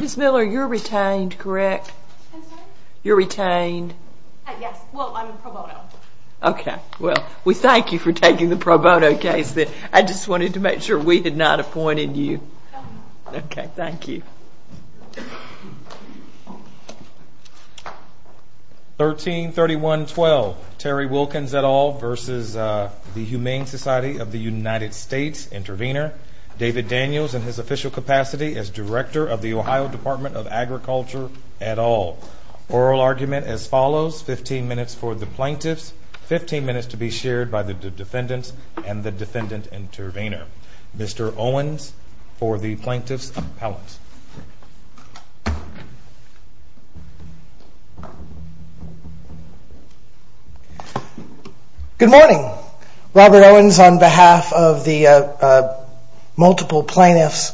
Ms. Miller, you're retained, correct? I'm sorry? You're retained. Yes, well, I'm in pro bono. Okay, well, we thank you for taking the pro bono case. I just wanted to make sure we had not appointed you. Okay, thank you. 133112, Terry Wilkins et al. versus the Humane Society of the United States, intervener, David Daniels in his official capacity as director of the Ohio Department of Agriculture et al. Oral argument as follows, 15 minutes for the plaintiffs, 15 minutes to be shared by the defendants, and the defendant intervener. Mr. Owens for the plaintiffs' appellant. Good morning. Robert Owens on behalf of the multiple plaintiffs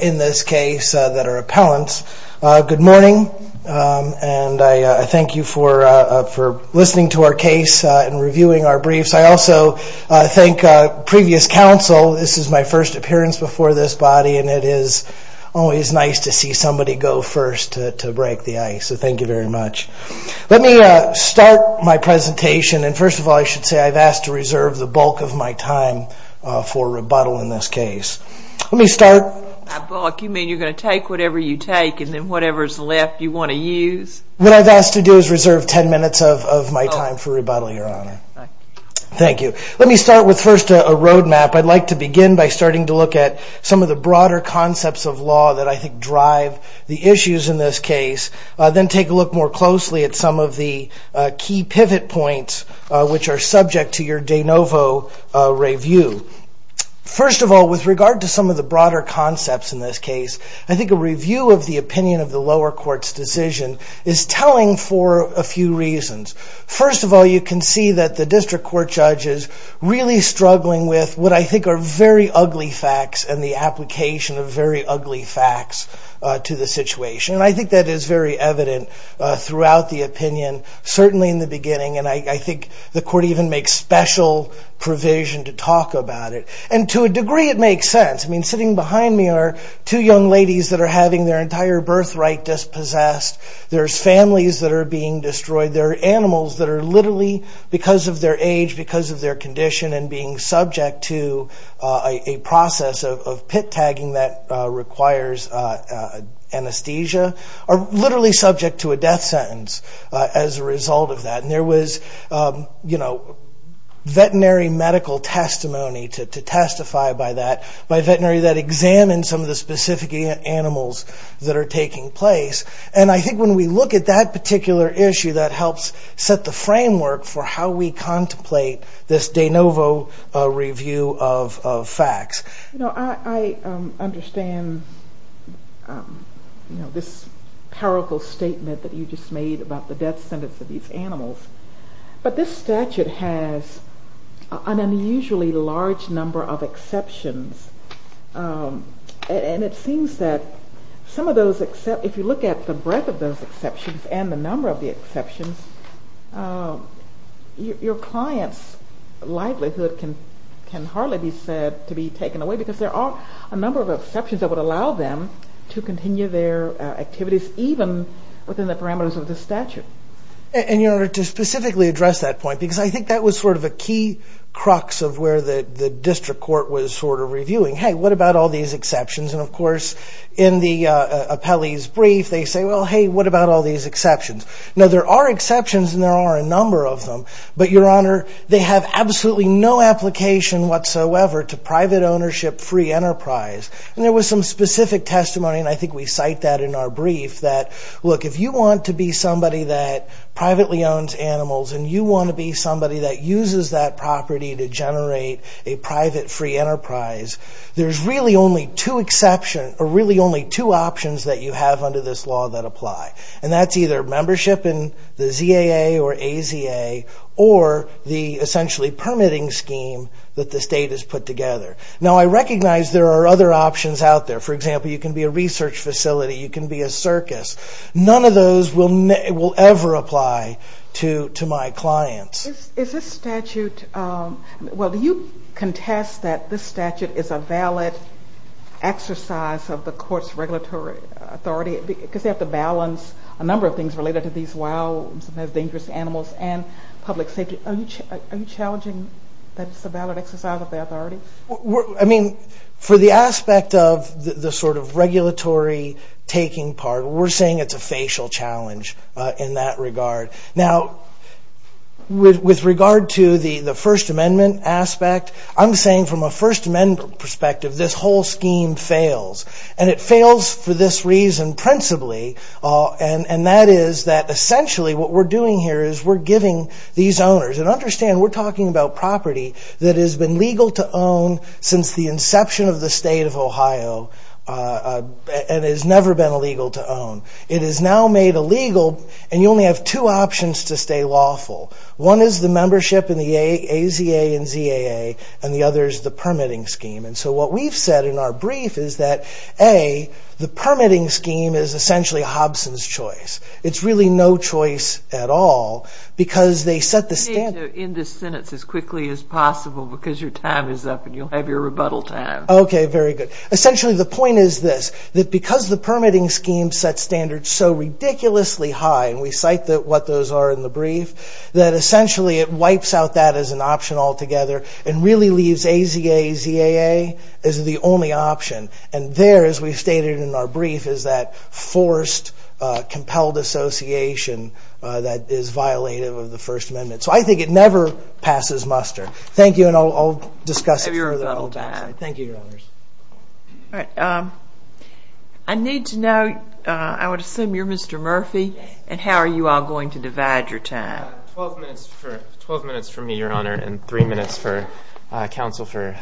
in this case that are appellants. Good morning, and I thank you for listening to our case and reviewing our briefs. I also thank previous counsel. This is my first appearance before this body, and it is always nice to see somebody go first to break the ice, so thank you very much. Let me start my presentation, and first of all, I should say I've asked to reserve the bulk of my time for rebuttal in this case. Let me start. You mean you're going to take whatever you take and then whatever is left you want to use? What I've asked to do is reserve 10 minutes of my time for rebuttal, Your Honor. Thank you. Let me start with first a roadmap. I'd like to begin by starting to look at some of the broader concepts of law that I think drive the issues in this case, then take a look more closely at some of the key pivot points which are subject to your de novo review. First of all, with regard to some of the broader concepts in this case, I think a review of the opinion of the lower court's decision is telling for a few reasons. First of all, you can see that the district court judge is really struggling with what I think are very ugly facts and the application of very ugly facts to the situation. I think that is very evident throughout the opinion, certainly in the beginning, and I think the court even makes special provision to talk about it. To a degree, it makes sense. Sitting behind me are two young ladies that are having their entire birthright dispossessed. There are families that are being destroyed. There are animals that are literally, because of their age, because of their condition, and being subject to a process of pit tagging that requires anesthesia. They are literally subject to a death sentence as a result of that. There was veterinary medical testimony to testify by that, by a veterinary that examined some of the specific animals that are taking place. I think when we look at that particular issue, that helps set the framework for how we contemplate this de novo review of facts. You know, I understand this powerful statement that you just made about the death sentence of these animals, but this statute has an unusually large number of exceptions. It seems that if you look at the breadth of those exceptions and the number of the exceptions, your client's livelihood can hardly be said to be taken away because there are a number of exceptions that would allow them to continue their activities, even within the parameters of the statute. In order to specifically address that point, because I think that was sort of a key crux of where the district court was sort of reviewing, hey, what about all these exceptions? And of course, in the appellee's brief, they say, well, hey, what about all these exceptions? Now, there are exceptions and there are a number of them, but your honor, they have absolutely no application whatsoever to private ownership free enterprise. And there was some specific testimony, and I think we cite that in our brief, that, look, if you want to be somebody that privately owns animals and you want to be somebody that uses that property to generate a private free enterprise, there's really only two exceptions, or really only two options that you have under this law that apply. And that's either membership in the ZAA or AZA or the essentially permitting scheme that the state has put together. Now, I recognize there are other options out there. For example, you can be a research facility, you can be a circus. None of those will ever apply to my clients. Is this statute, well, do you contest that this statute is a valid exercise of the court's regulatory authority? Because they have to balance a number of things related to these wild, sometimes dangerous animals and public safety. Are you challenging that it's a valid exercise of the authority? I mean, for the aspect of the sort of regulatory taking part, we're saying it's a facial challenge in that regard. Now, with regard to the First Amendment aspect, I'm saying from a First Amendment perspective, this whole scheme fails. And it fails for this reason principally, and that is that essentially what we're doing here is we're giving these owners, and understand, we're talking about property that has been legal to own since the inception of the state of Ohio and has never been illegal to own. It is now made illegal, and you only have two options to stay lawful. One is the membership in the AZA and ZAA, and the other is the permitting scheme. And so what we've said in our brief is that, A, the permitting scheme is essentially Hobson's choice. It's really no choice at all because they set the standard. In this sentence, as quickly as possible, because your time is up and you'll have your rebuttal time. Okay, very good. Essentially, the point is this, that because the permitting scheme sets standards so ridiculously high, and we cite what those are in the brief, that essentially it wipes out that as an option altogether and really leaves AZA, ZAA as the only option. And there, as we've stated in our brief, is that forced, compelled association that is violative of the First Amendment. So I think it never passes muster. Thank you, and I'll discuss it. I need to know, I would assume you're Mr. Murphy, and how are you all going to divide your time? Twelve minutes for me, Your Honor, and three minutes for counsel for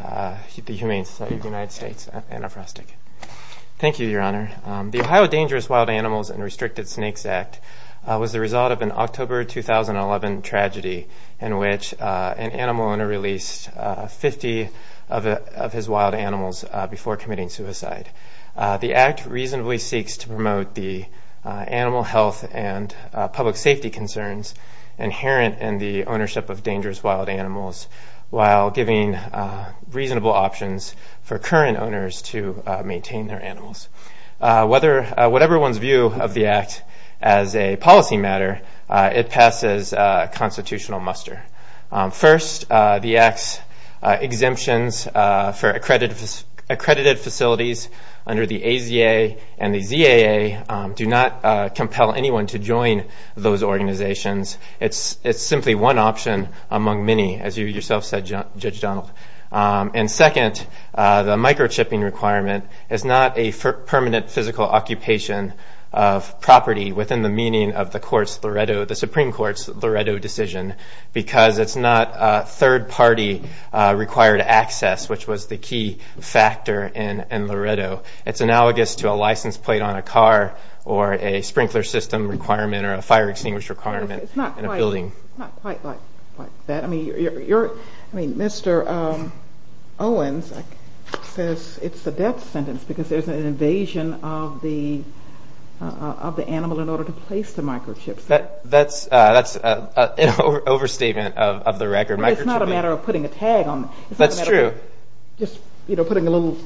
the Humane Society of the United States, Anna Frostick. Thank you, Your Honor. The Ohio Dangerous Wild Animals and Restricted Snakes Act was the result of an October 2011 tragedy in which an animal owner released 50 of his wild animals before committing suicide. The act reasonably seeks to promote the animal health and public safety concerns inherent in the ownership of dangerous wild animals while giving reasonable options for current owners to maintain their animals. Whatever one's view of the act as a policy matter, it passes constitutional muster. First, the act's exemptions for accredited facilities under the AZA and the ZAA do not compel anyone to join those organizations. It's simply one option among many, as you yourself said, Judge Donald. And second, the microchipping requirement is not a permanent physical occupation of property within the meaning of the Supreme Court's Loretto decision because it's not third-party required access, which was the key factor in Loretto. It's analogous to a license plate on a car or a sprinkler system requirement or a fire extinguisher requirement in a building. It's not quite like that. I mean, Mr. Owens says it's a death sentence because there's an invasion of the animal in order to place the microchip. That's an overstatement of the record. It's not a matter of putting a tag on it. That's true. Just putting a little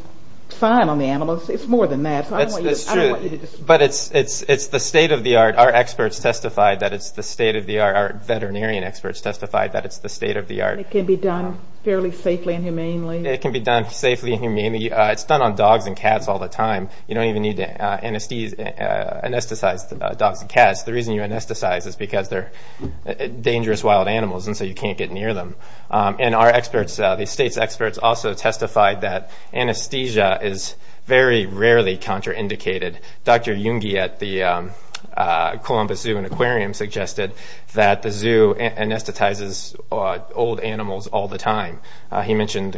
sign on the animal. It's more than that. That's true. I don't want you to disagree. But it's the state of the art. Our experts testified that it's the state of the art. Our veterinarian experts testified that it's the state of the art. It can be done fairly safely and humanely. It can be done safely and humanely. It's done on dogs and cats all the time. You don't even need to anesthetize dogs and cats. The reason you anesthetize is because they're dangerous wild animals and so you can't get near them. Our experts, the state's experts, also testified that anesthesia is very rarely contraindicated. Dr. Yungi at the Columbus Zoo and Aquarium suggested that the zoo anesthetizes old animals all the time. He mentioned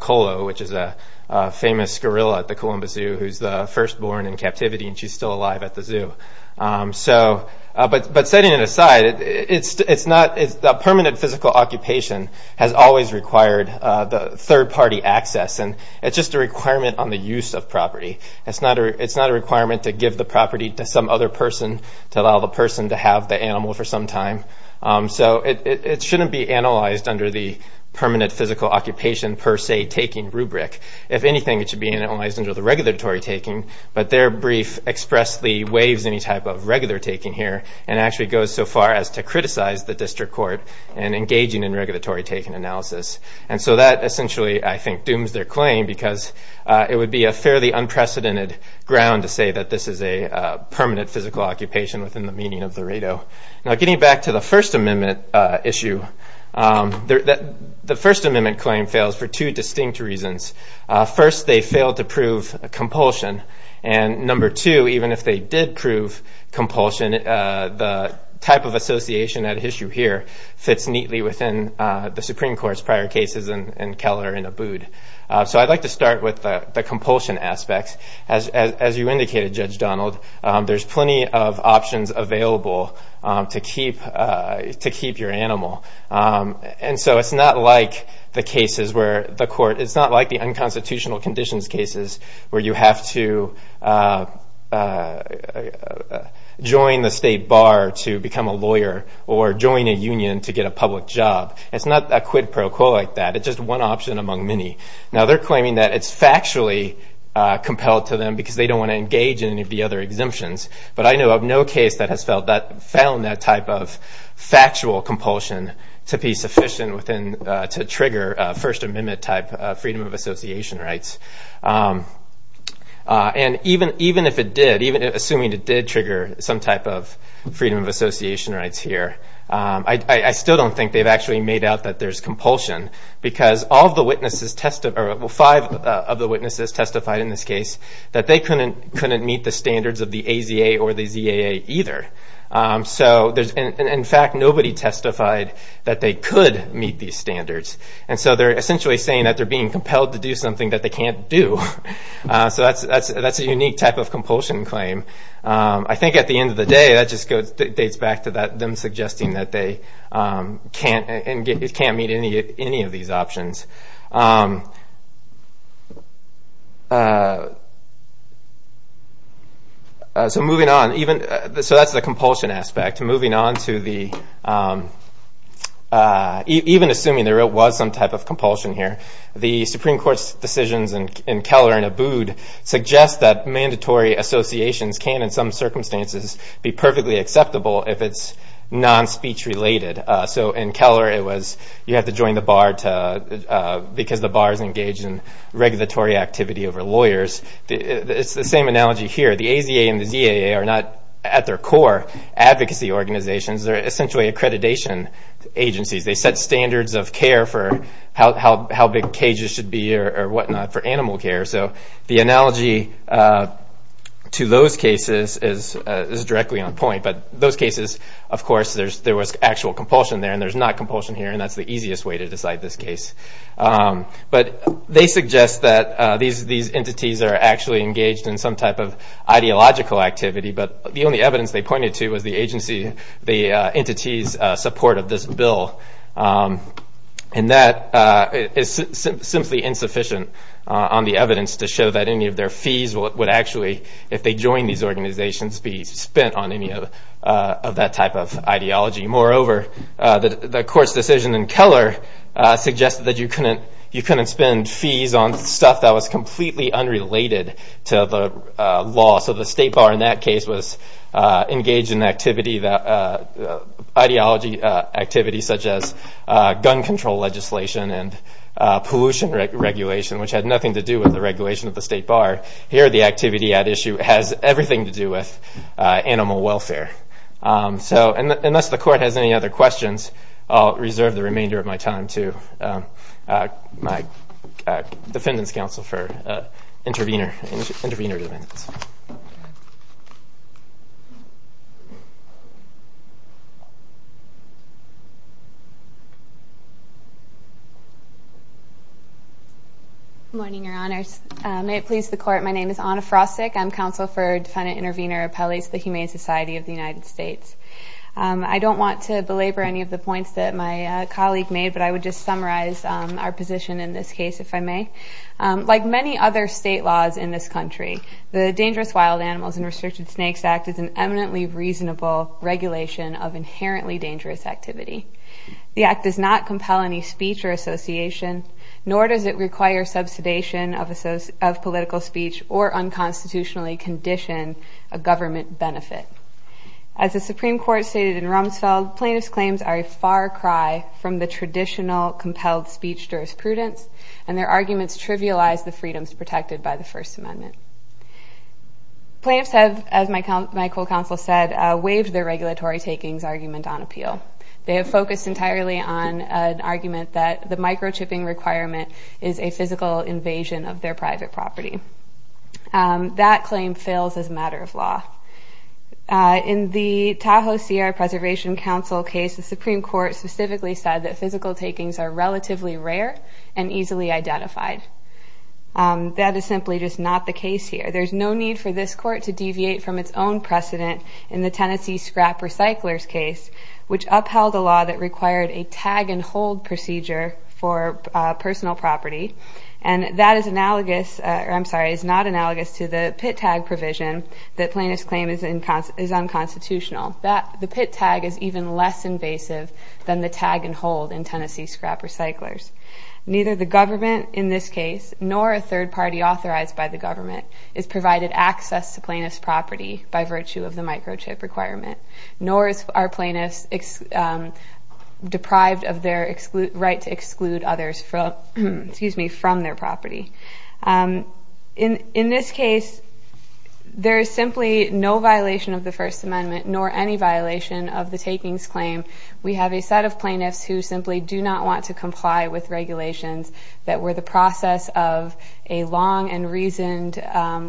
Kolo, which is a famous gorilla at the Columbus Zoo who's the first born in captivity and she's still alive at the zoo. Setting it aside, permanent physical occupation has always required third party access. It's just a requirement on the use of property. It's not a requirement to give the property to some other person to allow the person to have the animal for some time. It shouldn't be analyzed under the permanent physical occupation per se taking rubric. If anything, it should be analyzed under the regulatory taking, but their brief expressly waives any type of regular taking here and actually goes so far as to criticize the district court in engaging in regulatory taking analysis. That essentially, I think, dooms their claim because it would be a fairly unprecedented ground to say that this is a permanent physical occupation within the meaning of the RATO. Now getting back to the First Amendment issue, the First Amendment claim fails for two distinct reasons. First, they failed to prove compulsion. And number two, even if they did prove compulsion, the type of association at issue here fits neatly within the Supreme Court's prior cases in Keller and Abood. So I'd like to start with the compulsion aspects. As you indicated, Judge Donald, there's plenty of options available to keep your animal. And so it's not like the cases where the court, it's not like the unconstitutional conditions cases where you have to join the state bar to become a lawyer or join a union to get a public job. It's not a quid pro quo like that. It's just one option among many. Now they're claiming that it's factually compelled to them because they don't want to engage in any of the other exemptions. But I know of no case that has found that type of factual compulsion to be sufficient to trigger First Amendment type freedom of association rights. And even if it did, even assuming it did trigger some type of freedom of association rights here, I still don't think they've actually made out that there's compulsion because all of the witnesses, well five of the witnesses testified in this case that they couldn't meet the standards of the AZA or the ZAA either. So in fact, nobody testified that they could meet these standards. And so they're essentially saying that they're being compelled to do something that they can't do. So that's a unique type of compulsion claim. I think at the end of the day, that just dates back to them suggesting that they can't meet any of these options. So moving on, so that's the compulsion aspect. Moving on to the, even assuming there was some type of compulsion here, the Supreme Court's decisions in Keller and Abood suggest that mandatory associations can, in some circumstances, be perfectly acceptable if it's non-speech related. So in Keller it was you have to join the bar because the bar is engaged in regulatory activity over lawyers. It's the same analogy here. The AZA and the ZAA are not, at their core, advocacy organizations. They're essentially accreditation agencies. They set standards of care for how big cages should be or whatnot for animal care. So the analogy to those cases is directly on point. But those cases, of course, there was actual compulsion there and there's not compulsion here, and that's the easiest way to decide this case. But they suggest that these entities are actually engaged in some type of ideological activity, but the only evidence they pointed to was the entity's support of this bill. And that is simply insufficient on the evidence to show that any of their fees would actually, if they joined these organizations, be spent on any of that type of ideology. Moreover, the court's decision in Keller suggested that you couldn't spend fees on stuff that was completely unrelated to the law. So the state bar in that case was engaged in ideology activity, such as gun control legislation and pollution regulation, which had nothing to do with the regulation of the state bar. Here, the activity at issue has everything to do with animal welfare. So unless the court has any other questions, I'll reserve the remainder of my time to my Defendant's Counsel for Intervenor Defendants. Good morning, Your Honors. May it please the Court, my name is Anna Frostick. I'm Counsel for Defendant Intervenor Appellees to the Humane Society of the United States. I don't want to belabor any of the points that my colleague made, but I would just summarize our position in this case, if I may. Like many other state laws in this country, the Dangerous Wild Animals and Restricted Snakes Act is an eminently reasonable regulation of inherently dangerous activity. The act does not compel any speech or association, nor does it require subsidization of political speech or unconstitutionally condition a government benefit. As the Supreme Court stated in Rumsfeld, plaintiffs' claims are a far cry from the traditional compelled speech jurisprudence, and their arguments trivialize the freedoms protected by the First Amendment. Plaintiffs have, as my co-counsel said, waived their regulatory takings argument on appeal. They have focused entirely on an argument that the microchipping requirement is a physical invasion of their private property. That claim fails as a matter of law. In the Tahoe Sierra Preservation Council case, the Supreme Court specifically said that physical takings are relatively rare and easily identified. That is simply just not the case here. There's no need for this court to deviate from its own precedent in the Tennessee Scrap Recyclers case, which upheld a law that required a tag-and-hold procedure for personal property. That is not analogous to the pit tag provision that plaintiffs claim is unconstitutional. The pit tag is even less invasive than the tag-and-hold in Tennessee Scrap Recyclers. Neither the government in this case, nor a third party authorized by the government, is provided access to plaintiffs' property by virtue of the microchip requirement, nor are plaintiffs deprived of their right to exclude others from their property. In this case, there is simply no violation of the First Amendment, nor any violation of the takings claim. We have a set of plaintiffs who simply do not want to comply with regulations that were the process of a long and reasoned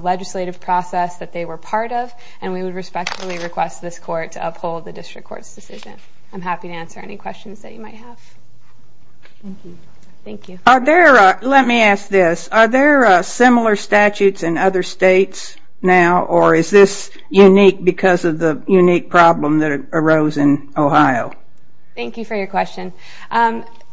legislative process that they were part of, and we would respectfully request this court to uphold the district court's decision. I'm happy to answer any questions that you might have. Thank you. Let me ask this. Are there similar statutes in other states now, or is this unique because of the unique problem that arose in Ohio? Thank you for your question.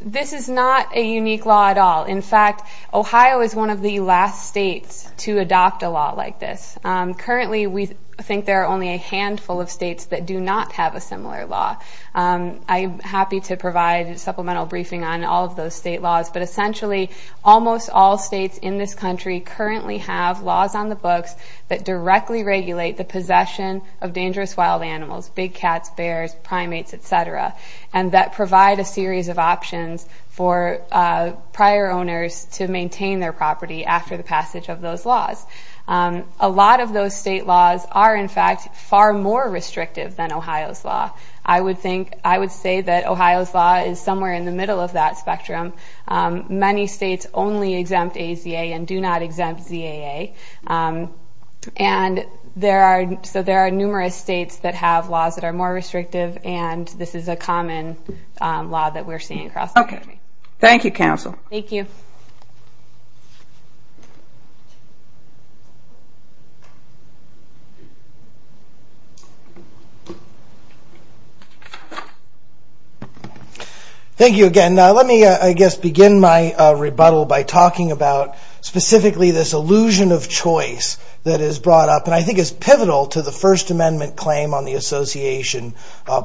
This is not a unique law at all. In fact, Ohio is one of the last states to adopt a law like this. Currently, we think there are only a handful of states that do not have a similar law. I'm happy to provide a supplemental briefing on all of those state laws, but essentially almost all states in this country currently have laws on the books that directly regulate the possession of dangerous wild animals, big cats, bears, primates, et cetera, and that provide a series of options for prior owners to maintain their property after the passage of those laws. A lot of those state laws are, in fact, far more restrictive than Ohio's law. I would say that Ohio's law is somewhere in the middle of that spectrum. Many states only exempt AZA and do not exempt ZAA, and so there are numerous states that have laws that are more restrictive, and this is a common law that we're seeing across the country. Thank you, counsel. Thank you. Thank you again. Now let me, I guess, begin my rebuttal by talking about specifically this illusion of choice that is brought up and I think is pivotal to the First Amendment claim on the association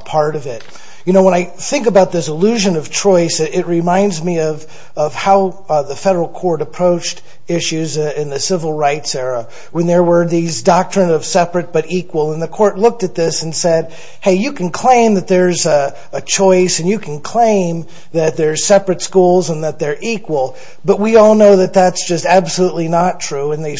part of it. You know, when I think about this illusion of choice, it reminds me of how the federal court approached issues in the civil rights era when there were these doctrines of separate but equal, and the court looked at this and said, hey, you can claim that there's a choice and you can claim that there's separate schools and that they're equal, but we all know that that's just absolutely not true, and they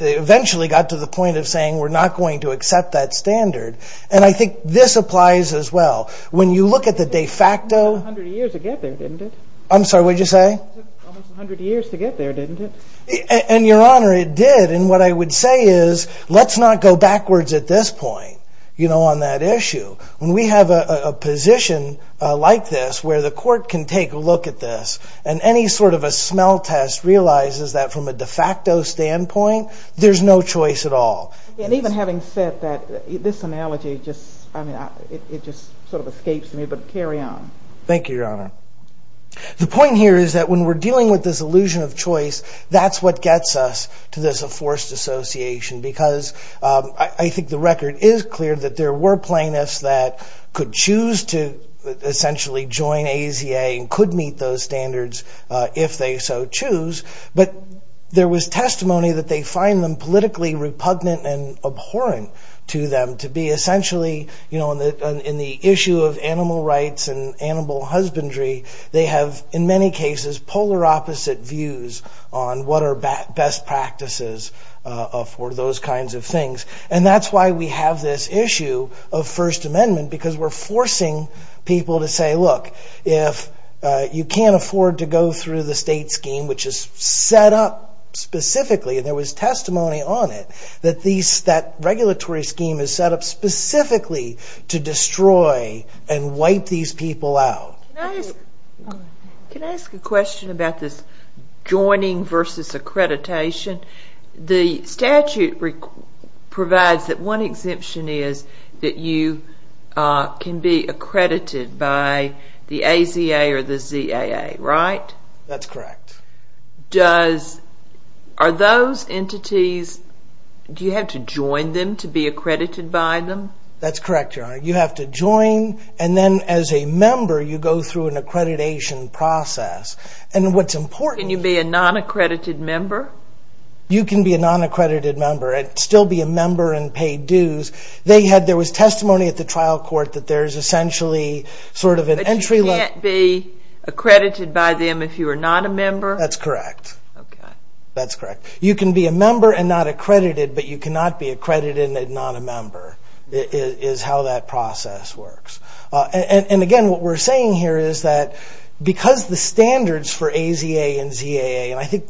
eventually got to the point of saying we're not going to accept that standard, and I think this applies as well. When you look at the de facto. It took almost 100 years to get there, didn't it? I'm sorry, what did you say? It took almost 100 years to get there, didn't it? And, Your Honor, it did, and what I would say is let's not go backwards at this point, you know, on that issue. When we have a position like this where the court can take a look at this and any sort of a smell test realizes that from a de facto standpoint, there's no choice at all. And even having said that, this analogy just sort of escapes me, but carry on. Thank you, Your Honor. The point here is that when we're dealing with this illusion of choice, that's what gets us to this forced association because I think the record is clear that there were plaintiffs that could choose to essentially join AZA and could meet those standards if they so choose, but there was testimony that they find them politically repugnant and abhorrent to them to be essentially, you know, in the issue of animal rights and animal husbandry, they have, in many cases, polar opposite views on what are best practices for those kinds of things. And that's why we have this issue of First Amendment because we're forcing people to say, look, if you can't afford to go through the state scheme, which is set up specifically, and there was testimony on it, that that regulatory scheme is set up specifically to destroy and wipe these people out. Can I ask a question about this joining versus accreditation? The statute provides that one exemption is that you can be accredited by the AZA or the ZAA, right? That's correct. Are those entities, do you have to join them to be accredited by them? That's correct, Your Honor. You have to join and then as a member you go through an accreditation process. And what's important... Can you be a non-accredited member? You can be a non-accredited member and still be a member and pay dues. There was testimony at the trial court that there's essentially sort of an entry level... You can't be accredited by them if you are not a member? That's correct. Okay. That's correct. You can be a member and not accredited, but you cannot be accredited and not a member is how that process works. And, again, what we're saying here is that because the standards for AZA and ZAA, and I think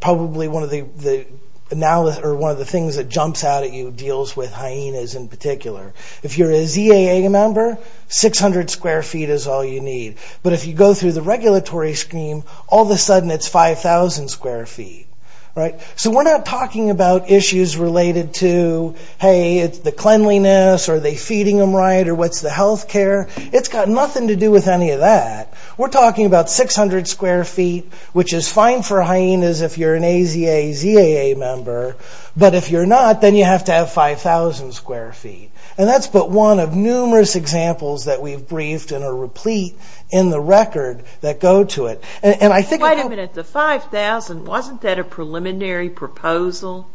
probably one of the things that jumps out at you deals with hyenas in particular, if you're a ZAA member, 600 square feet is all you need. But if you go through the regulatory scheme, all of a sudden it's 5,000 square feet, right? So we're not talking about issues related to, hey, it's the cleanliness, are they feeding them right, or what's the health care? It's got nothing to do with any of that. We're talking about 600 square feet, which is fine for hyenas if you're an AZA, ZAA member. But if you're not, then you have to have 5,000 square feet. And that's but one of numerous examples that we've briefed in a replete in the record that go to it. Wait a minute. The 5,000, wasn't that a preliminary proposal?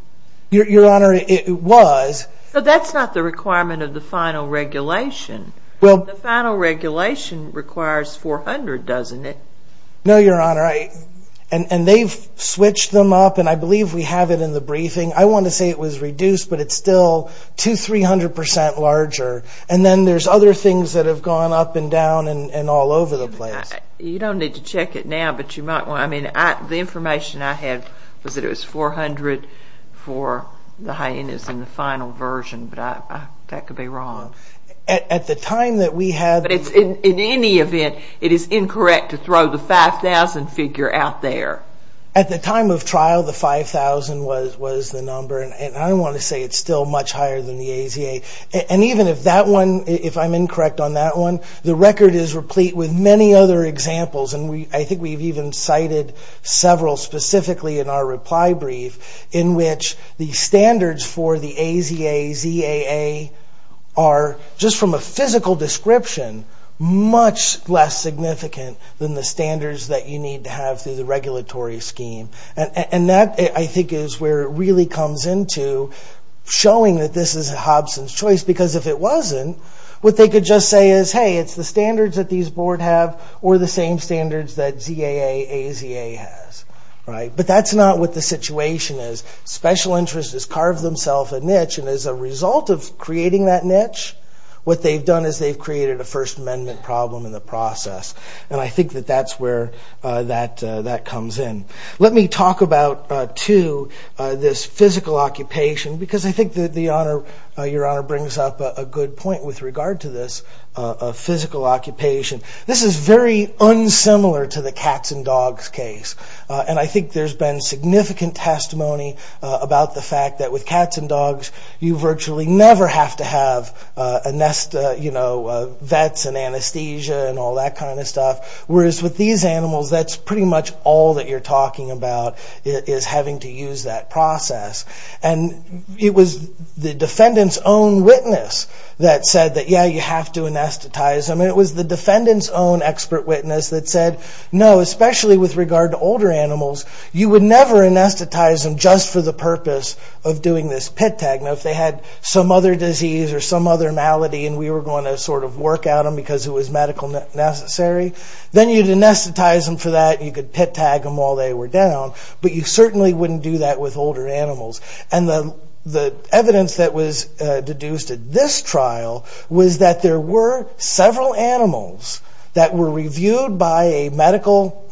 Your Honor, it was. But that's not the requirement of the final regulation. The final regulation requires 400, doesn't it? No, Your Honor. All right. And they've switched them up, and I believe we have it in the briefing. I want to say it was reduced, but it's still 200, 300% larger. And then there's other things that have gone up and down and all over the place. You don't need to check it now, but you might want to. I mean, the information I had was that it was 400 for the hyenas in the final version, but that could be wrong. At the time that we had But in any event, it is incorrect to throw the 5,000 figure out there. At the time of trial, the 5,000 was the number. And I want to say it's still much higher than the AZA. And even if that one, if I'm incorrect on that one, the record is replete with many other examples. And I think we've even cited several specifically in our reply brief, in which the standards for the AZA, ZAA are, just from a physical description, much less significant than the standards that you need to have through the regulatory scheme. And that, I think, is where it really comes into showing that this is Hobson's choice. Because if it wasn't, what they could just say is, hey, it's the standards that these boards have, or the same standards that ZAA, AZA has. But that's not what the situation is. Special interest has carved themselves a niche, and as a result of creating that niche, what they've done is they've created a First Amendment problem in the process. And I think that that's where that comes in. Let me talk about, too, this physical occupation. Because I think that Your Honor brings up a good point with regard to this physical occupation. This is very unsimilar to the cats and dogs case. And I think there's been significant testimony about the fact that with cats and dogs, you virtually never have to have a nest, you know, vets and anesthesia and all that kind of stuff. Whereas with these animals, that's pretty much all that you're talking about is having to use that process. And it was the defendant's own witness that said that, yeah, you have to anesthetize them. And it was the defendant's own expert witness that said, no, especially with regard to older animals, you would never anesthetize them just for the purpose of doing this pit tag. Now, if they had some other disease or some other malady, and we were going to sort of work out them because it was medical necessary, then you'd anesthetize them for that, and you could pit tag them while they were down. But you certainly wouldn't do that with older animals. And the evidence that was deduced at this trial was that there were several animals that were reviewed by a medical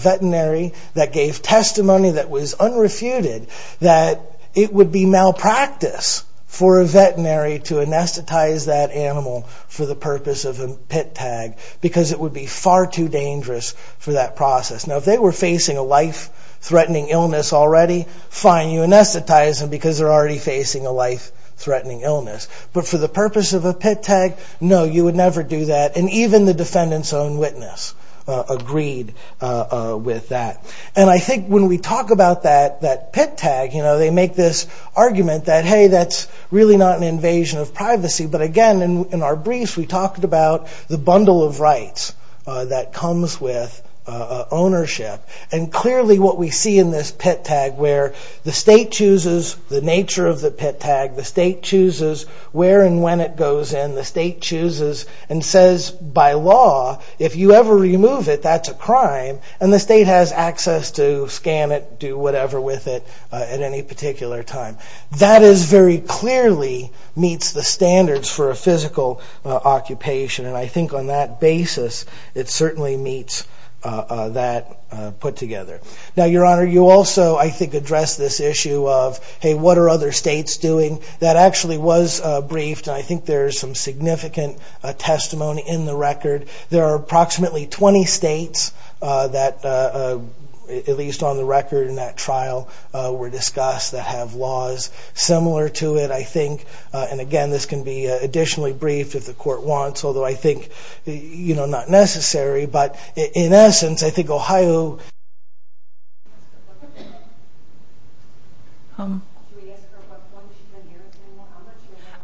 veterinary that gave testimony that was unrefuted that it would be malpractice for a veterinary to anesthetize that animal for the purpose of a pit tag because it would be far too dangerous for that process. Now, if they were facing a life-threatening illness already, fine, you anesthetize them because they're already facing a life-threatening illness. But for the purpose of a pit tag, no, you would never do that. And even the defendant's own witness agreed with that. And I think when we talk about that pit tag, they make this argument that, hey, that's really not an invasion of privacy. But again, in our briefs, we talked about the bundle of rights that comes with ownership. And clearly what we see in this pit tag where the state chooses the nature of the pit tag, the state chooses where and when it goes in, the state chooses and says, by law, if you ever remove it, that's a crime, and the state has access to scan it, do whatever with it at any particular time. That is very clearly meets the standards for a physical occupation. And I think on that basis, it certainly meets that put together. Now, Your Honor, you also, I think, address this issue of, hey, what are other states doing? That actually was briefed, and I think there is some significant testimony in the record. There are approximately 20 states that, at least on the record in that trial, were discussed that have laws similar to it, I think. And again, this can be additionally briefed if the court wants, although I think, you know, not necessary. But in essence, I think Ohio......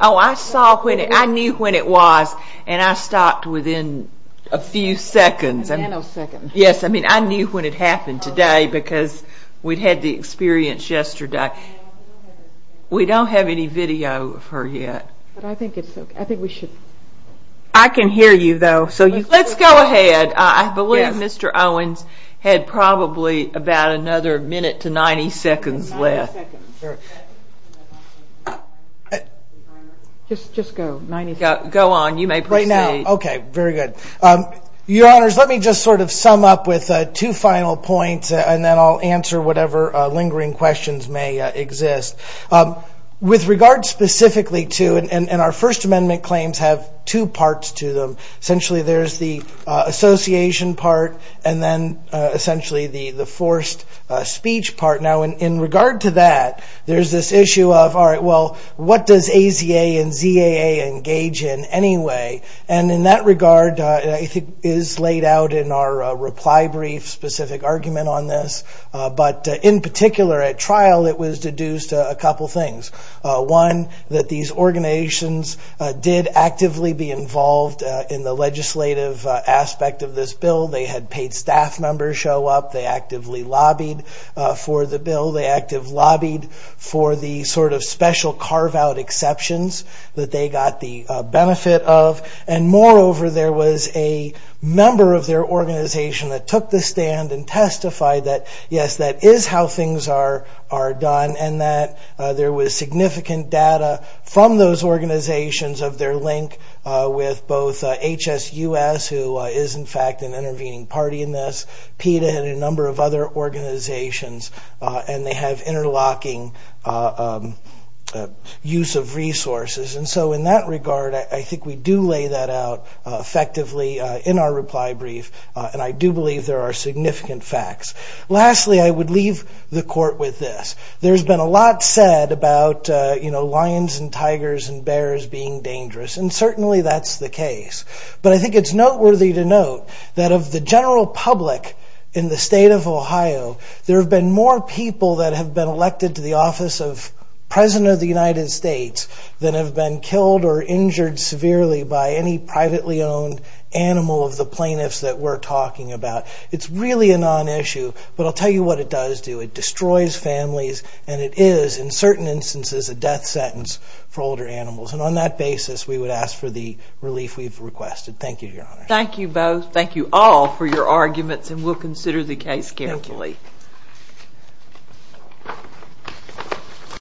Oh, I saw when it, I knew when it was, and I stopped within a few seconds. A nanosecond. Yes, I mean, I knew when it happened today because we had the experience yesterday. We don't have any video of her yet. But I think we should... I can hear you, though. Let's go ahead. I believe Mr. Owens had probably about another minute to 90 seconds left. Just go. Go on. You may proceed. Right now. Okay, very good. Your Honors, let me just sort of sum up with two final points, and then I'll answer whatever lingering questions may exist. With regard specifically to, and our First Amendment claims have two parts to them. Essentially, there's the association part, and then essentially the forced speech part. Now, in regard to that, there's this issue of, all right, well, what does AZA and ZAA engage in anyway? And in that regard, it is laid out in our reply brief specific argument on this, but in particular at trial it was deduced a couple things. One, that these organizations did actively be involved in the legislative aspect of this bill. They had paid staff members show up. They actively lobbied for the bill. They actively lobbied for the sort of special carve-out exceptions that they got the benefit of. And, moreover, there was a member of their organization that took the stand and testified that, yes, that is how things are done, and that there was significant data from those organizations of their link with both HSUS, who is, in fact, an intervening party in this, PETA and a number of other organizations, and they have interlocking use of resources. And so in that regard, I think we do lay that out effectively in our reply brief, and I do believe there are significant facts. Lastly, I would leave the court with this. There's been a lot said about, you know, lions and tigers and bears being dangerous, and certainly that's the case. But I think it's noteworthy to note that of the general public in the state of Ohio, there have been more people that have been elected to the office of President of the United States than have been killed or injured severely by any privately owned animal of the plaintiffs that we're talking about. It's really a non-issue, but I'll tell you what it does do. It destroys families, and it is, in certain instances, a death sentence for older animals. And on that basis, we would ask for the relief we've requested. Thank you, Your Honor. Thank you both. Thank you all for your arguments, and we'll consider the case carefully. Thank you.